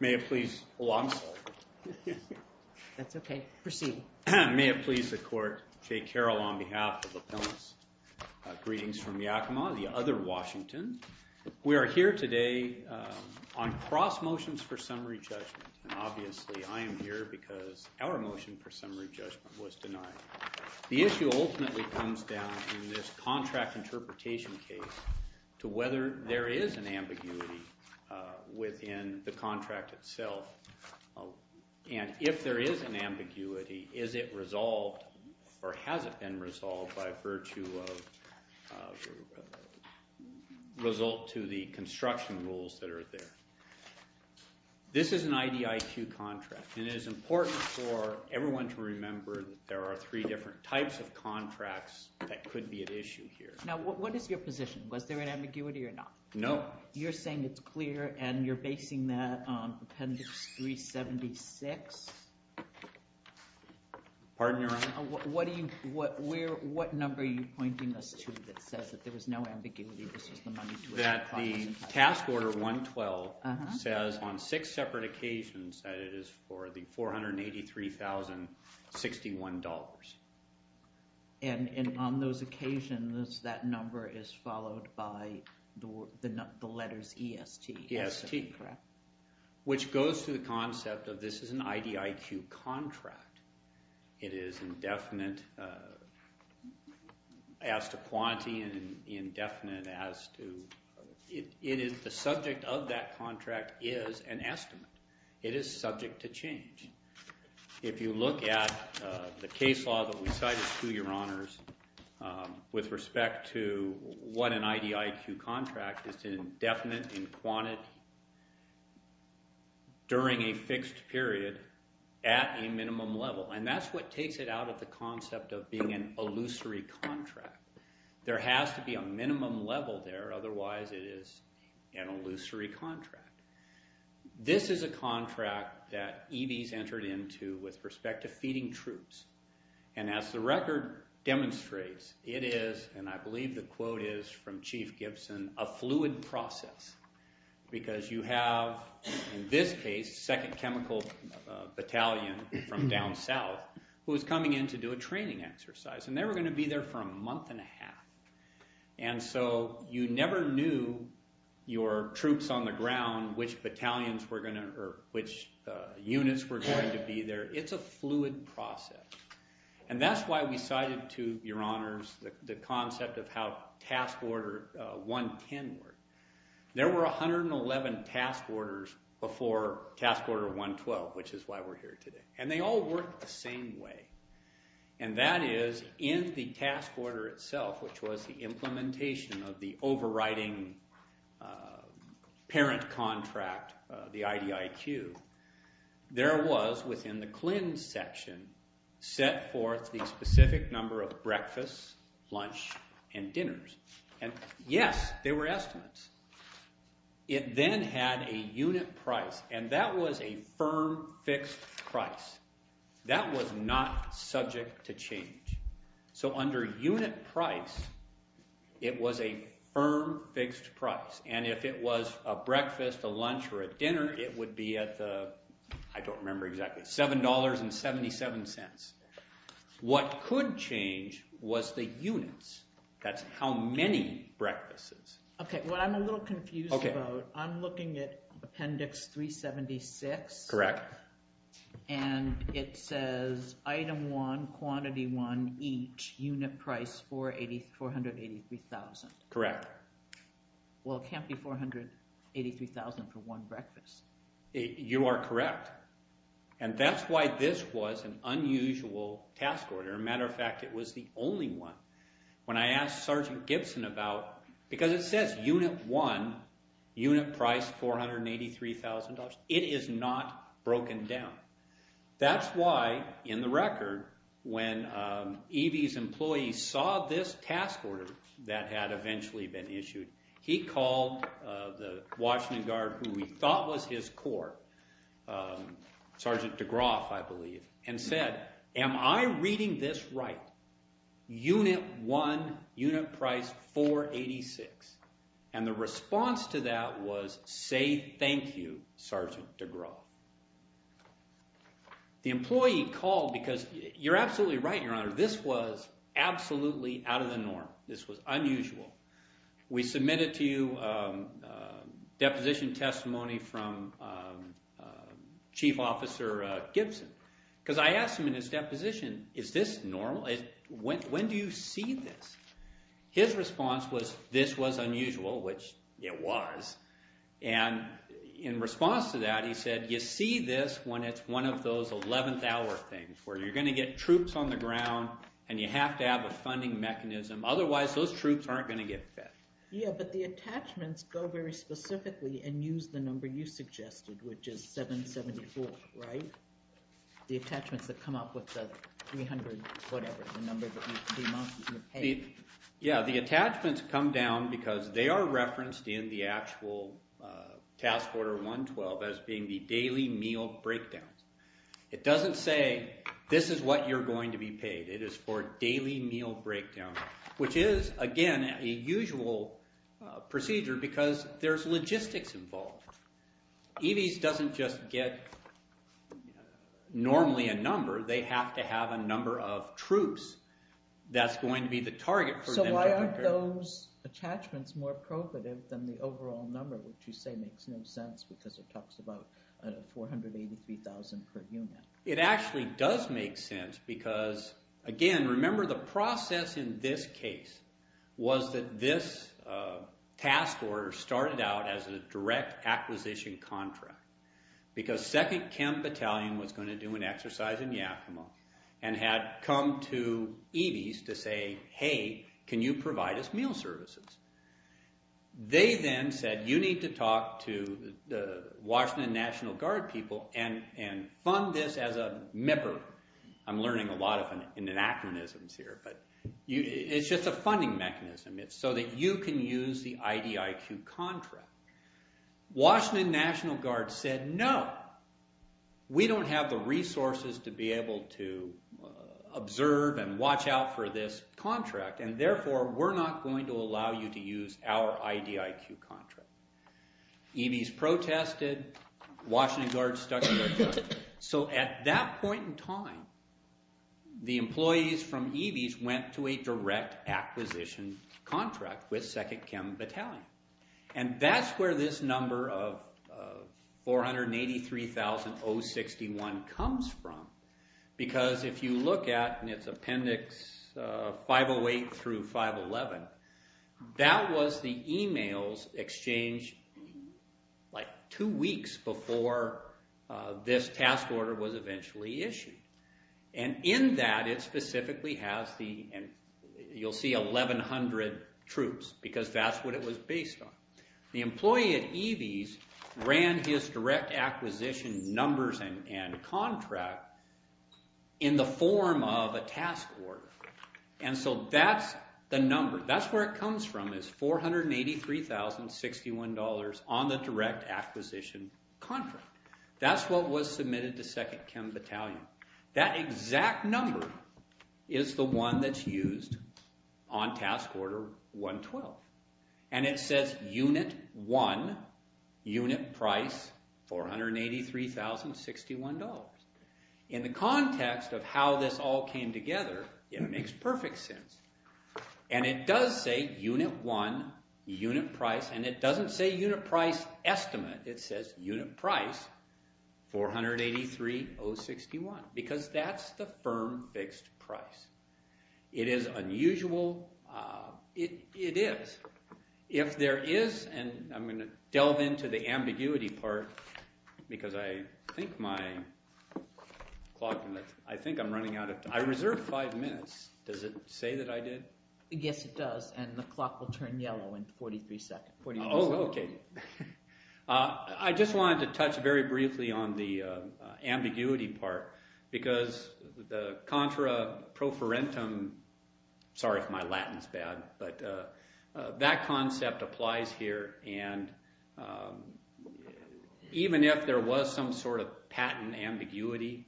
May it please the Court, Jay Carroll on behalf of Appellants. Greetings from Yakima, the other Washington. We are here today on cross-motions for summary judgment, and obviously I am here because our motion for summary judgment was denied. The issue ultimately comes down in this contract interpretation case to whether there is an ambiguity within the contract itself, and if there is an ambiguity, is it resolved or has it been resolved by virtue of result to the construction rules that are there. This is an IDIQ contract, and it is important for everyone to remember that there are three different types of contracts that could be at issue here. Now, what is your position? Was there an ambiguity or not? No. You're saying it's clear, and you're basing that on Appendix 376? Pardon your honor? What number are you pointing us to that says that there was no ambiguity, this was the money to it? The task order 112 says on six separate occasions that it is for the $483,061. And on those occasions, that number is followed by the letters EST? EST. Correct. Which goes to the concept of this is an IDIQ contract. It is indefinite as to quantity and indefinite as to, it is the subject of that contract is an estimate. It is subject to change. If you look at the case law that we cited through your honors with respect to what an And that's what takes it out of the concept of being an illusory contract. There has to be a minimum level there, otherwise it is an illusory contract. This is a contract that EVs entered into with respect to feeding troops. And as the record demonstrates, it is, and I believe the quote is from Chief Gibson, a fluid process. Because you have, in this case, second chemical battalion from down south who is coming in to do a training exercise. And they were going to be there for a month and a half. And so you never knew your troops on the ground, which battalions were going to, or which units were going to be there. It's a fluid process. And that's why we cited to your honors the concept of how task order 110 worked. There were 111 task orders before task order 112, which is why we're here today. And they all worked the same way. And that is, in the task order itself, which was the implementation of the overriding parent contract, the IDIQ, there was, within the CLIN section, set forth the specific number of breakfasts, lunch, and dinners. And yes, there were estimates. It then had a unit price. And that was a firm, fixed price. That was not subject to change. So under unit price, it was a firm, fixed price. And if it was a breakfast, a lunch, or a dinner, it would be at the, I don't remember exactly, $7.77. What could change was the units. That's how many breakfasts. Okay, what I'm a little confused about, I'm looking at Appendix 376. Correct. And it says, item 1, quantity 1, each, unit price $483,000. Correct. Well, it can't be $483,000 for one breakfast. You are correct. And that's why this was an unusual task order. As a matter of fact, it was the only one. When I asked Sergeant Gibson about, because it says unit 1, unit price $483,000, it is not broken down. That's why, in the record, when EV's employees saw this task order that had eventually been issued, he called the Washington Guard, who he thought was his court, Sergeant DeGroff, I believe, and said, am I reading this right? Unit 1, unit price $486,000. And the response to that was, say thank you, Sergeant DeGroff. The employee called because, you're absolutely right, Your Honor, this was absolutely out of the norm. This was unusual. We submitted to you a deposition testimony from Chief Officer Gibson. Because I asked him in his deposition, is this normal? When do you see this? His response was, this was unusual, which it was. And in response to that, he said, you see this when it's one of those 11th hour things, where you're going to get troops on the ground, and you have to have a funding mechanism, otherwise those troops aren't going to get fed. Yeah, but the attachments go very specifically and use the number you suggested, which is 774, right? The attachments that come up with the 300 whatever, the number that you pay. Yeah, the attachments come down because they are referenced in the actual task order 112 as being the daily meal breakdowns. It doesn't say, this is what you're going to be paid. It is for daily meal breakdown, which is, again, a usual procedure because there's logistics involved. EVs doesn't just get normally a number. They have to have a number of troops. That's going to be the target for them. So why aren't those attachments more profitable than the overall number, which you say makes no sense because it talks about 483,000 per unit. It actually does make sense because, again, remember the process in this case was that this task order started out as a direct acquisition contract because 2nd Camp Battalion was going to do an exercise in Yakima and had come to EVs to say, hey, can you provide us meal services? They then said, you need to talk to the Washington National Guard people and fund this as a member. I'm learning a lot of anachronisms here, but it's just a funding mechanism. It's so that you can use the IDIQ contract. Washington National Guard said, no. We don't have the resources to be able to observe and watch out for this contract, and therefore, we're not going to allow you to use our IDIQ contract. EVs protested. Washington Guard stuck to their choice. So at that point in time, the employees from EVs went to a direct acquisition contract with 2nd Camp Battalion. And that's where this number of 483,061 comes from because if you look at, and it's Appendix 508 through 511, that was the email's exchange like two weeks before this task order was eventually issued. And in that, it specifically has the, you'll see 1,100 troops because that's what it was based on. The employee at EVs ran his direct acquisition numbers and contract in the form of a task order. And so that's the number. That's where it comes from is $483,061 on the direct acquisition contract. That's what was submitted to 2nd Camp Battalion. That exact number is the one that's used on Task Order 112. And it says Unit 1, Unit Price, $483,061. In the context of how this all came together, it makes perfect sense. And it does say Unit 1, Unit Price, and it doesn't say Unit Price Estimate. It says Unit Price, 483,061 because that's the firm fixed price. It is unusual. It is. If there is, and I'm going to delve into the ambiguity part because I think my clock, I think I'm running out of time. I reserved five minutes. Does it say that I did? Yes, it does. And the clock will turn yellow in 43 seconds. Oh, okay. I just wanted to touch very briefly on the ambiguity part because the contra pro forentum, sorry if my Latin's bad, but that concept applies here. And even if there was some sort of patent ambiguity,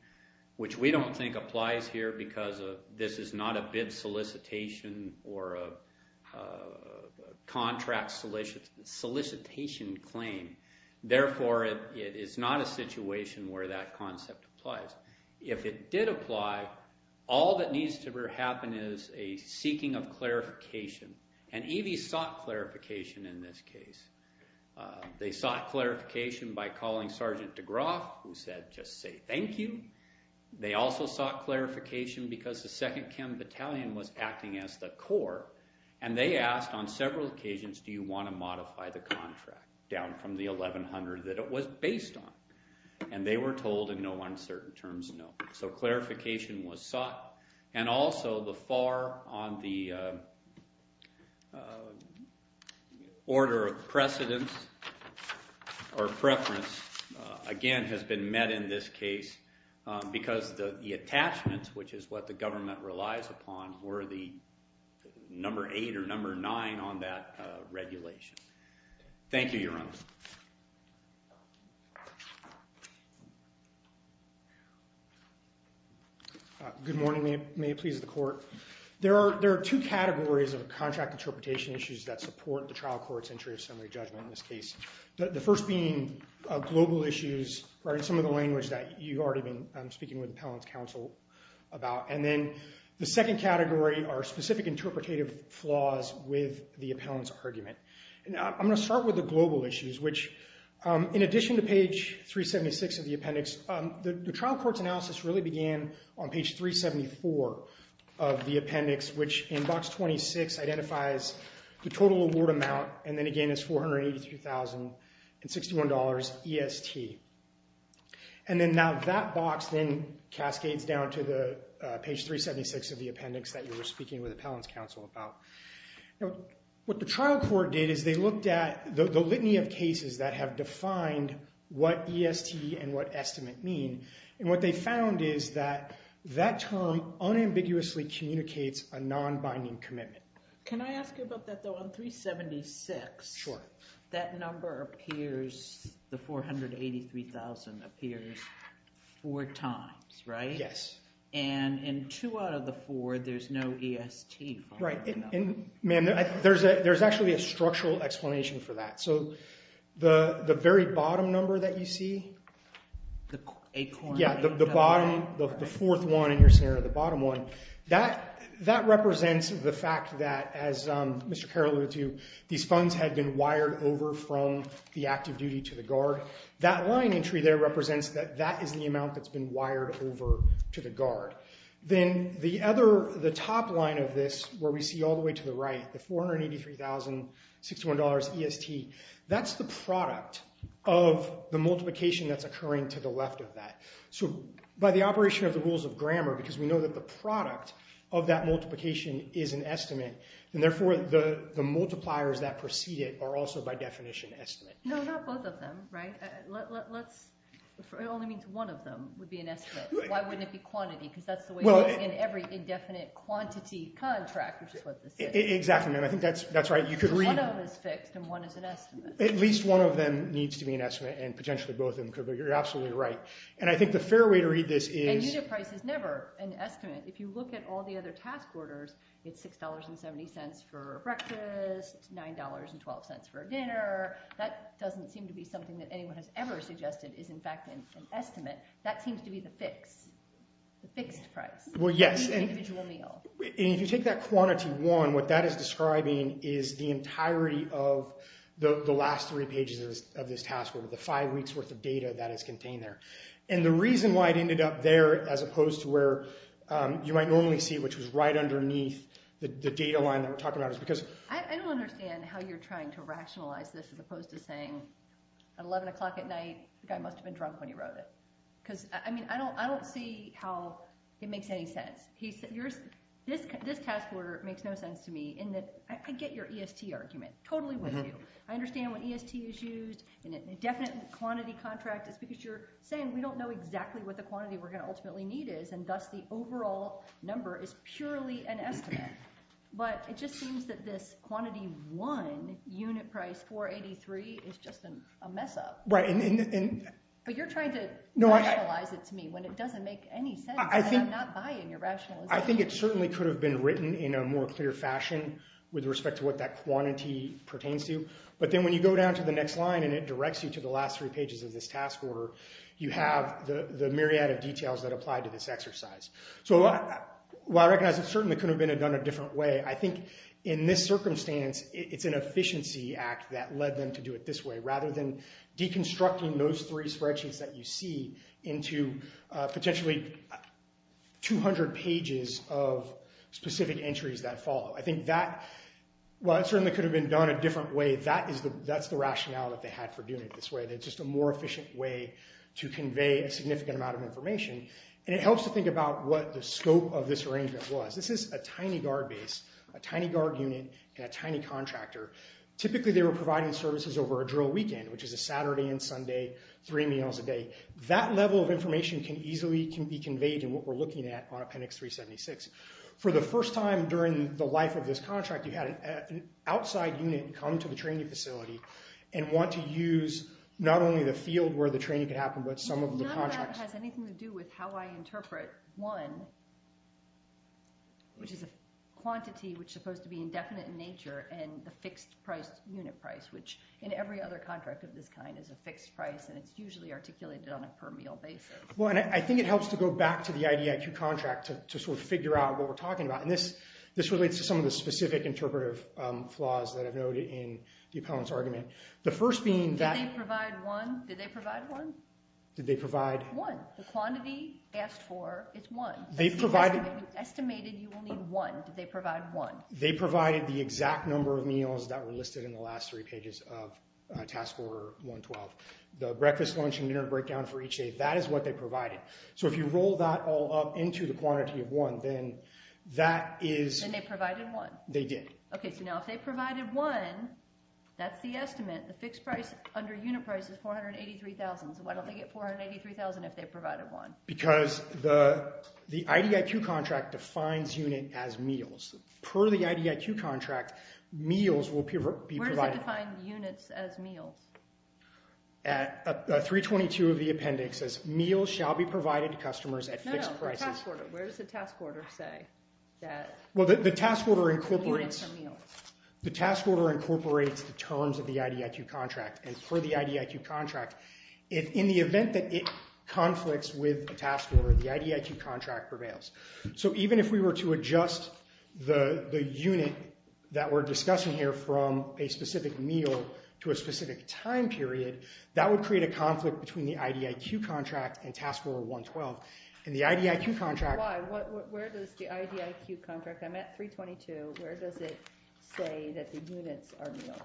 which we don't think applies here because this is not a bid solicitation or a contract solicitation claim. Therefore, it is not a situation where that concept applies. If it did apply, all that needs to happen is a seeking of clarification. And EV sought clarification in this case. They sought clarification by calling Sergeant DeGroff who said, just say thank you. They also sought clarification because the 2nd Chem Battalion was acting as the core and they asked on several occasions, do you want to modify the contract down from the 1100 that it was based on? And they were told in no uncertain terms, no. So clarification was sought and also the FAR on the order of precedence or preference again has been met in this case because the attachments which is what the government relies upon were the number 8 or number 9 on that regulation. Thank you, Your Honor. Good morning. May it please the court. There are two categories of contract interpretation issues that support the trial court's entry of summary judgment in this case. The first being global issues or in some of the language that you've already been speaking with the appellant's counsel about and then the second category are specific interpretative flaws with the appellant's argument. I'm going to start with the global issues which in addition to page 376 of the appendix the trial court's analysis really began on page 374 of the appendix which in box 26 identifies the total award amount and then again is $483,061 EST. And then that box then cascades down to page 376 of the appendix that you were speaking with the appellant's counsel about. What the trial court did is they looked at the litany of cases that have defined what EST and what estimate mean and what they found is that that term unambiguously communicates a non-binding commitment. Can I ask you about that though? On 376 that number appears the $483,000 appears four times right? Yes. And in two out of the four there's no EST. Right. And ma'am there's actually a structural explanation for that. So the very bottom number that you see the bottom the fourth one in your scenario the bottom one that represents the fact that as Mr. Carroll alluded to these funds had been wired over from the active duty to the guard that line entry there represents that that is the amount that's been wired over to the guard. Then the other, the top line of this where we see all the way to the right the $483,061 EST that's the product of the multiplication that's occurring to the left of that. So by the operation of the rules of grammar because we know that the product of that multiplication is an estimate and therefore the multipliers that precede it are also by definition estimates. No, not both of them, right? Let's, it only means one of them would be an estimate. Why wouldn't it be quantity? Because that's the way in every indefinite quantity contract, which is what this is. Exactly, ma'am. I think that's right. You could read One of them is fixed and one is an estimate. At least one of them needs to be an estimate and potentially both of them could be. You're absolutely right. And I think the fair way to read this is And unit price is never an estimate. If you look at all the other task orders, it's $6.70 for breakfast $9.12 for dinner That doesn't seem to be something that anyone has ever suggested is in fact an estimate. That seems to be the fix. The fixed price. Well, yes. And if you take that quantity one, what that is describing is the entirety of the last three pages of this task order. The five weeks' worth of data that is contained there. And the reason why it ended up there as opposed to where you might normally see which was right underneath the data line that we're talking about is because I don't understand how you're trying to rationalize this as opposed to saying at 11 o'clock at night the guy must have been drunk when he wrote it. I don't see how it makes any sense. This task order makes no sense to me in that I get your EST argument. Totally with you. I understand when EST is used in a definite quantity contract. It's because you're saying we don't know exactly what the quantity we're going to ultimately need is and thus the overall number is purely an estimate. But it just seems that this quantity one unit price 483 is just a mess up. But you're trying to rationalize it to me when it doesn't make any sense and I'm not buying your rationalization. I think it certainly could have been written in a more clear fashion with respect to what that quantity pertains to. But then when you go down to the next line and it directs you to the last three pages of this task order, you have the myriad of details that apply to this exercise. I recognize it certainly could have been done a different way. I think in this circumstance it's an efficiency act that led them to do it this way rather than deconstructing those three spreadsheets that you see into potentially 200 pages of specific entries that follow. I think that certainly could have been done a different way. That's the rationale that they had for doing it this way. It's just a more efficient way to convey a significant amount of information and it helps to think about what the scope of this arrangement was. This is a tiny guard base, a tiny guard unit, and a tiny contractor. Typically they were providing services over a drill weekend, which is a Saturday and Sunday, three meals a day. That level of information can easily be conveyed in what we're looking at on Appendix 376. For the first time during the life of this contract you had an outside unit come to the training facility and want to use not only the field where the training could happen but some of the contracts. None of that has anything to do with how I interpret one, which is a quantity which is supposed to be indefinite in nature and the fixed unit price, which in every other contract of this kind is a fixed price and it's usually articulated on a per meal basis. I think it helps to go back to the IDIQ contract to figure out what we're talking about. This relates to some of the specific interpretive flaws that I've noted in the appellant's argument. Did they provide one? Did they provide one? One. The quantity asked for it's one. Estimated you will need one. Did they provide one? They provided the exact number of meals that were listed in the last three pages of Task Order 112. The breakfast, lunch, and dinner breakdown for each day, that is what they provided. If you roll that all up into the quantity of one, then that is Then they provided one. They did. If they provided one that's the estimate. The fixed price under unit price is $483,000 so why don't they get $483,000 if they provided one? Because the IDIQ contract defines unit as meals. Per the IDIQ contract meals will be Where does it define units as meals? 322 of the appendix says meals shall be provided to customers at fixed prices. Where does the Task Order say that units are meals? The Task Order incorporates the terms of the IDIQ contract and per the IDIQ contract, in the event that it conflicts with the Task Order, the IDIQ contract prevails. So even if we were to adjust the unit that we're discussing here from a specific meal to a specific time period, that would create a conflict between the IDIQ contract and Task Order 112. In the IDIQ contract Where does the IDIQ contract I'm at 322, where does it say that the units are meals?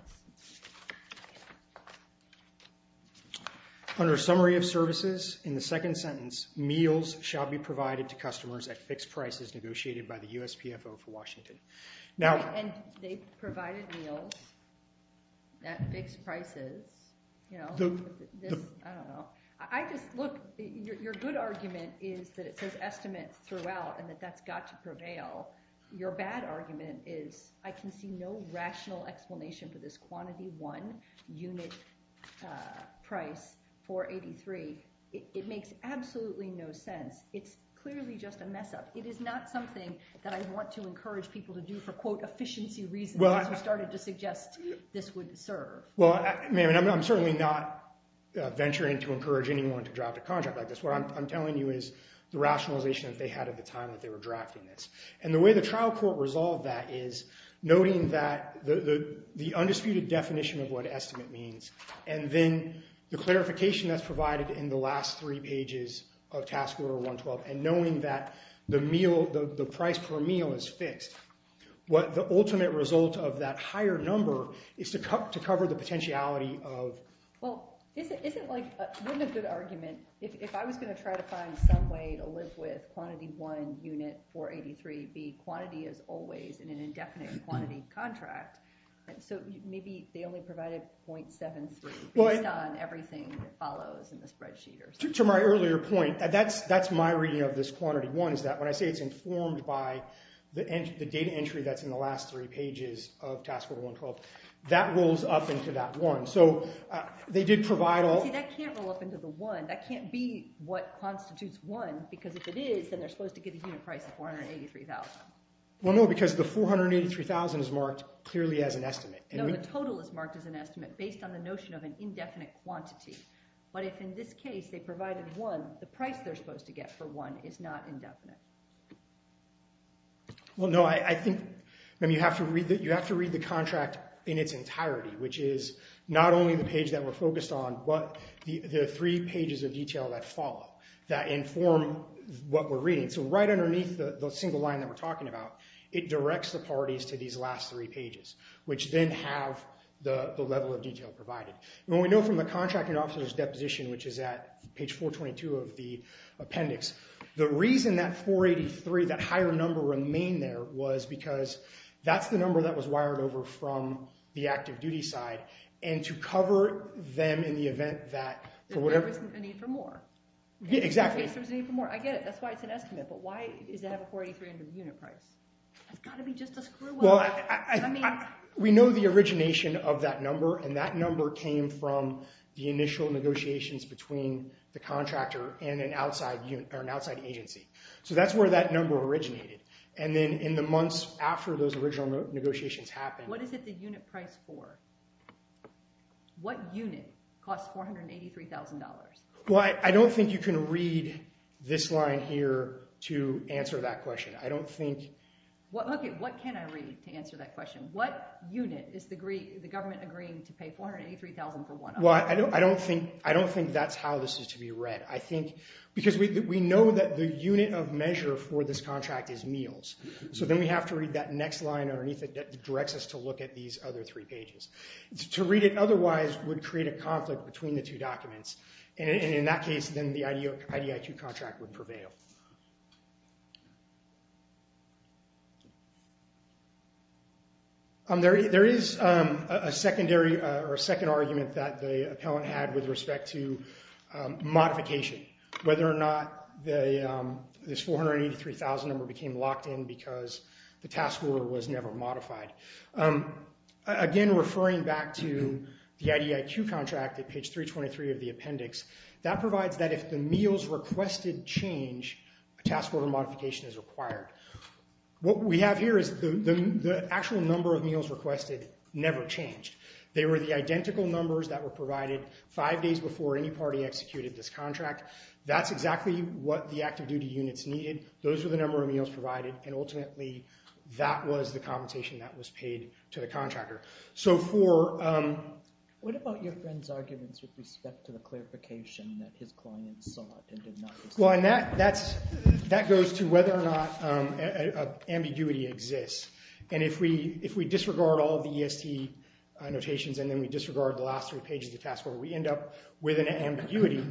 Under summary of services in the second sentence meals shall be provided to customers at fixed prices negotiated by the USPFO for Washington. And they provided meals at fixed prices you know I just look your good argument is that it says estimates throughout and that that's got to prevail. Your bad argument is I can see no rational explanation for this quantity one unit price 483. It makes absolutely no sense. It's clearly just a mess up. It is not something that I want to encourage people to do for quote efficiency reasons as you started to suggest this would serve. Well I'm certainly not venturing to encourage anyone to draft a contract like this. What I'm telling you is the rationalization that they had at the time that they were drafting this. And the way the trial court resolved that is noting that the undisputed definition of what estimate means and then the clarification that's provided in the last three pages of task order 112 and knowing that the meal, the price per meal is fixed. The ultimate result of that higher number is to cover the potentiality of. Well isn't like, wouldn't a good argument if I was going to try to find some way to live with quantity one unit 483 be quantity as always in an indefinite quantity contract. So maybe they only provided .73 based on everything that follows in the spreadsheet or something. To my earlier point that's my reading of this quantity one is that when I say it's informed by the data entry that's in the last three pages of task order 112 that rolls up into that one. So they did provide all. See that can't roll up into the one. That can't be what constitutes one because if it is then they're supposed to get a unit price of 483,000. Well no because the 483,000 is marked clearly as an estimate. No the total is marked as an estimate based on the notion of an indefinite quantity. But if in this case they provided one the price they're supposed to get for one is not indefinite. Well no I think you have to read the contract in its entirety which is not only the page that we're focused on but the three pages of detail that follow that inform what we're reading. So right underneath the single line that we're talking about it directs the parties to these last three pages which then have the level of detail provided. We know from the contracting officer's deposition which is at page 422 of the appendix. The reason that 483, that higher number remained there was because that's the number that was wired over from the active duty side and to cover them in the event that there was a need for more. Exactly. I get it. That's why it's an estimate. But why does it have a 483 under the unit price? It's got to be just a screw up. We know the origination of that number and that number came from the initial negotiations between the contractor and an outside agency. So that's where that number originated. And then in the months after those original negotiations happened. What is it the unit price for? What unit costs $483,000? I don't think you can read this line here to answer that question. What can I read to answer that question? What unit is the government agreeing to pay $483,000 for one of them? I don't think that's how this is to be read. Because we know that the unit of measure for this contract is meals. So then we have to read that next line underneath it that directs us to look at these other three pages. To read it otherwise would create a conflict between the two documents. And in that case then the IDIQ contract would prevail. There is a secondary or a second argument that the appellant had with respect to modification. Whether or not this $483,000 number became locked in because the task order was never modified. Again, referring back to the IDIQ contract at page 323 of the appendix, that provides that if the meals requested change, a task order modification is required. What we have here is the actual number of meals requested never changed. They were the identical numbers that were provided five days before any party executed this contract. That's exactly what the active duty units needed. Those were the number of meals provided and ultimately that was the compensation that was paid to the contractor. What about your friend's arguments with respect to the clarification that his client sought and did not receive? That goes to whether or not ambiguity exists. And if we disregard all the EST notations and then we disregard the last three pages of the task order, we end up with an ambiguity.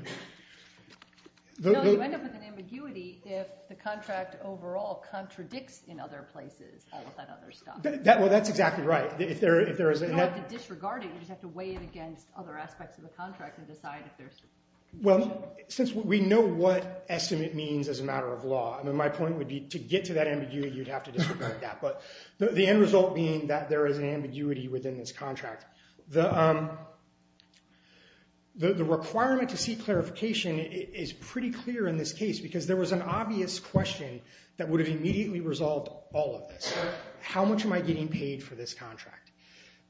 You end up with an ambiguity if the contract overall contradicts in other places all of that other stuff. That's exactly right. You don't have to disregard it, you just have to weigh it against other aspects of the contract and decide if there's confusion. We know what estimate means as a matter of law. My point would be to get to that ambiguity, you'd have to disregard that. The end result being that there is an ambiguity within this contract. The requirement to see clarification is pretty clear in this case because there was an obvious question that would have immediately resolved all of this. How much am I getting paid for this contract?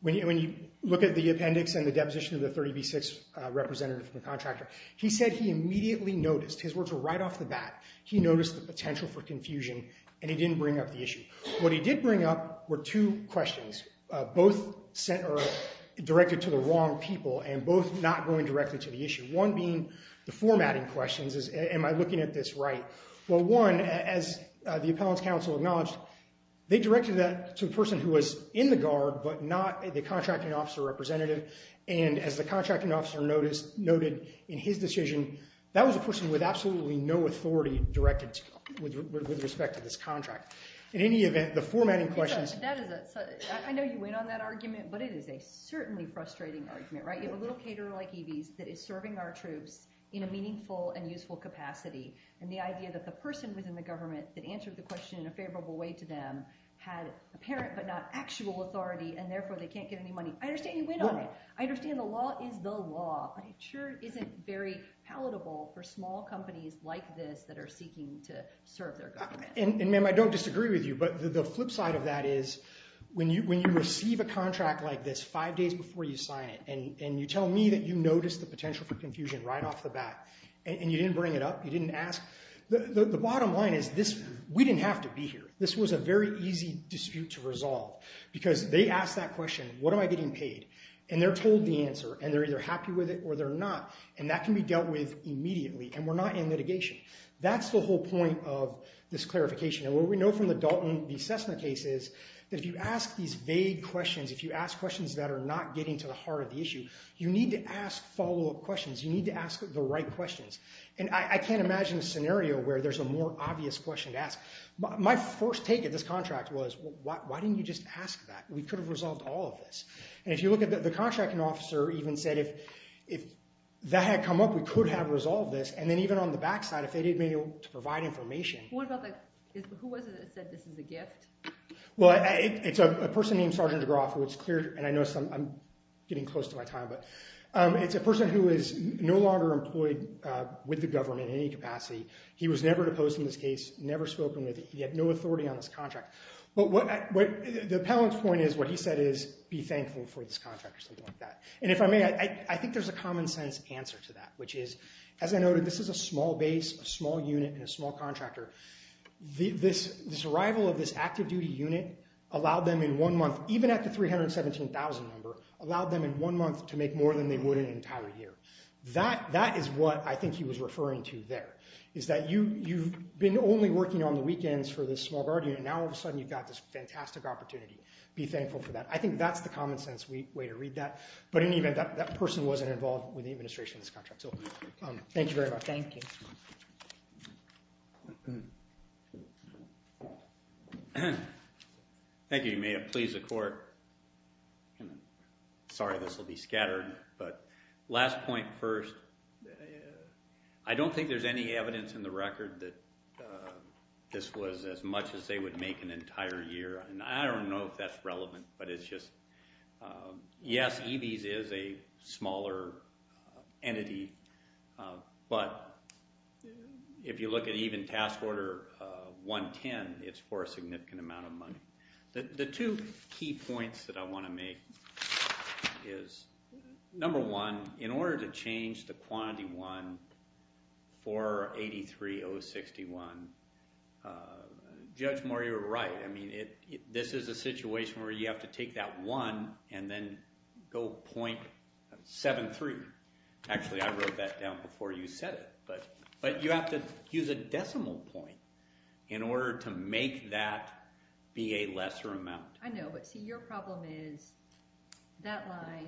When you look at the appendix and the deposition of the 30B6 representative from the contractor, he said he immediately noticed, his words were right off the bat, he noticed the potential for confusion and he didn't bring up the issue. What he did bring up were two questions, both directed to the wrong people and both not going directly to the issue. One being the appellant's counsel acknowledged they directed that to a person who was in the guard but not the contracting officer representative and as the contracting officer noted in his decision, that was a person with absolutely no authority directed with respect to this contract. In any event, the formatting questions... I know you went on that argument, but it is a certainly frustrating argument, right? You have a little caterer like Evie's that is serving our troops in a meaningful and useful capacity and the idea that the person within the government that answered the question in a favorable way to them had apparent but not actual authority and therefore they can't get any money. I understand you went on it. I understand the law is the law, but it sure isn't very palatable for small companies like this that are seeking to serve their government. And ma'am, I don't disagree with you, but the flip side of that is when you receive a contract like this five days before you sign it and you tell me that you noticed the potential for confusion right off the bat and you didn't bring it up, you didn't ask... The bottom line is this... We didn't have to be here. This was a very easy dispute to resolve because they asked that question, what am I getting paid? And they're told the answer and they're either happy with it or they're not and that can be dealt with immediately and we're not in litigation. That's the whole point of this clarification and what we know from the Dalton v. Cessna case is that if you ask these vague questions, if you ask questions that are not getting to the heart of the issue, you need to ask follow-up questions. And I can't imagine a scenario where there's a more obvious question to ask. My first take at this contract was, why didn't you just ask that? We could have resolved all of this. And if you look at the contracting officer even said, if that had come up, we could have resolved this. And then even on the back side, if they didn't have been able to provide information... Who was it that said this is a gift? Well, it's a person named Sergeant Groff, and I know I'm getting close to my time, but it's a person who is no longer employed with the government in any capacity. He was never deposed from this case, never spoken with, he had no authority on this contract. But what the appellant's point is, what he said is, be thankful for this contract or something like that. And if I may, I think there's a common sense answer to that, which is, as I noted, this is a small base, a small unit, and a small contractor. This arrival of this active duty unit allowed them in one month, even at the 317,000 number, allowed a year. That is what I think he was referring to there, is that you've been only working on the weekends for this small guard unit, and now all of a sudden you've got this fantastic opportunity. Be thankful for that. I think that's the common sense way to read that. But in any event, that person wasn't involved with the administration of this contract. So, thank you very much. Thank you. Thank you. You may have pleased the court. Sorry, this will be scattered, but last point first. I don't think there's any evidence in the record that this was as much as they would make an entire year, and I don't know if that's relevant, but it's just yes, EVs is a smaller entity, but if you look at even task order 110, it's for a significant amount of money. The two key points that I want to make is, number one, in order to change the quantity 1 for 83061, Judge Moore, you're right. I mean, this is a situation where you have to take that 1 and then go .73. Actually, I wrote that down before you said it. But you have to use a decimal point in order to make that be a The other problem is that line,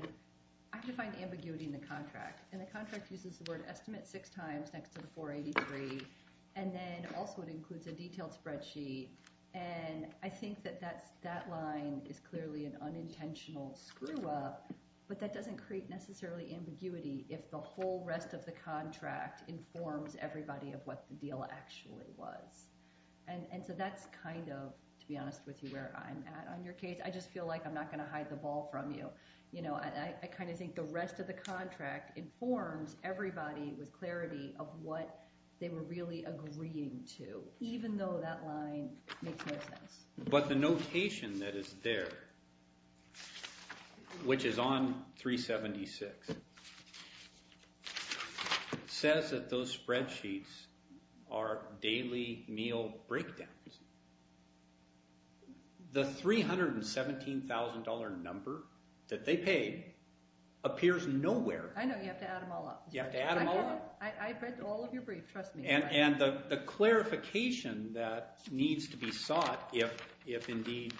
I can find ambiguity in the contract, and the contract uses the word estimate six times next to the 483, and then also it includes a detailed spreadsheet, and I think that that line is clearly an unintentional screw-up, but that doesn't create necessarily ambiguity if the whole rest of the contract informs everybody of what the deal actually was. And so that's kind of, to be honest with you, where I'm at on your case. I just feel like I'm not going to hide the ball from you. You know, I kind of think the rest of the contract informs everybody with clarity of what they were really agreeing to, even though that line makes no sense. But the notation that is there, which is on 376, says that those spreadsheets are daily meal breakdowns. The $317,000 number that they paid appears nowhere. I know, you have to add them all up. I read all of your briefs, trust me. And the clarification that needs to be sought, if indeed,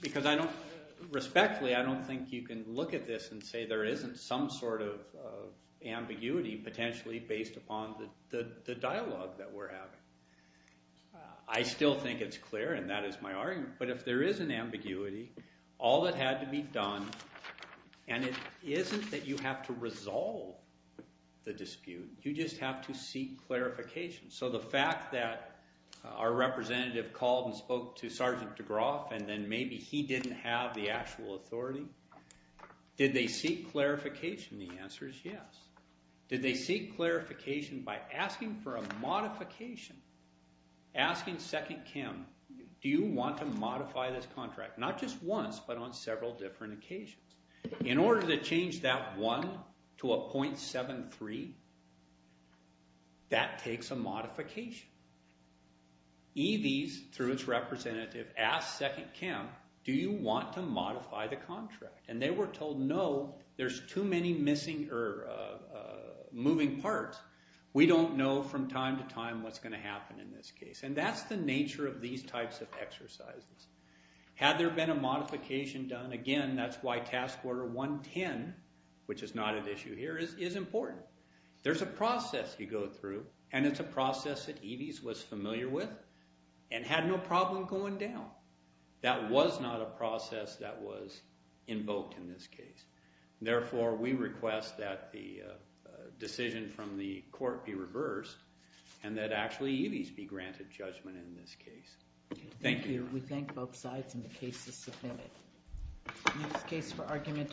because I don't, respectfully, I don't think you can look at this and say there isn't some sort of dialogue that we're having. I still think it's clear, and that is my argument. But if there is an ambiguity, all that had to be done, and it isn't that you have to resolve the dispute, you just have to seek clarification. So the fact that our representative called and spoke to Sergeant DeGroff, and then maybe he didn't have the actual authority, did they seek clarification? The answer is yes. Did they seek clarification by asking for a modification? Asking Second Kim, do you want to modify this contract? Not just once, but on several different occasions. In order to change that one to a .73, that takes a modification. EVs, through its representative, asked Second Kim, do you want to modify the contract? And they were told, no, there's too many missing or moving parts. We don't know from time to time what's going to happen in this case. And that's the nature of these types of exercises. Had there been a modification done, again, that's why Task Order 110, which is not at issue here, is important. There's a process you go through, and it's a process that EVs was familiar with, and had no problem going down. That was not a process that was invoked in this case. Therefore, we request that the decision from the court be reversed, and that actually EVs be granted judgment in this case. Thank you. We thank both sides, and the case is submitted. Next case for argument is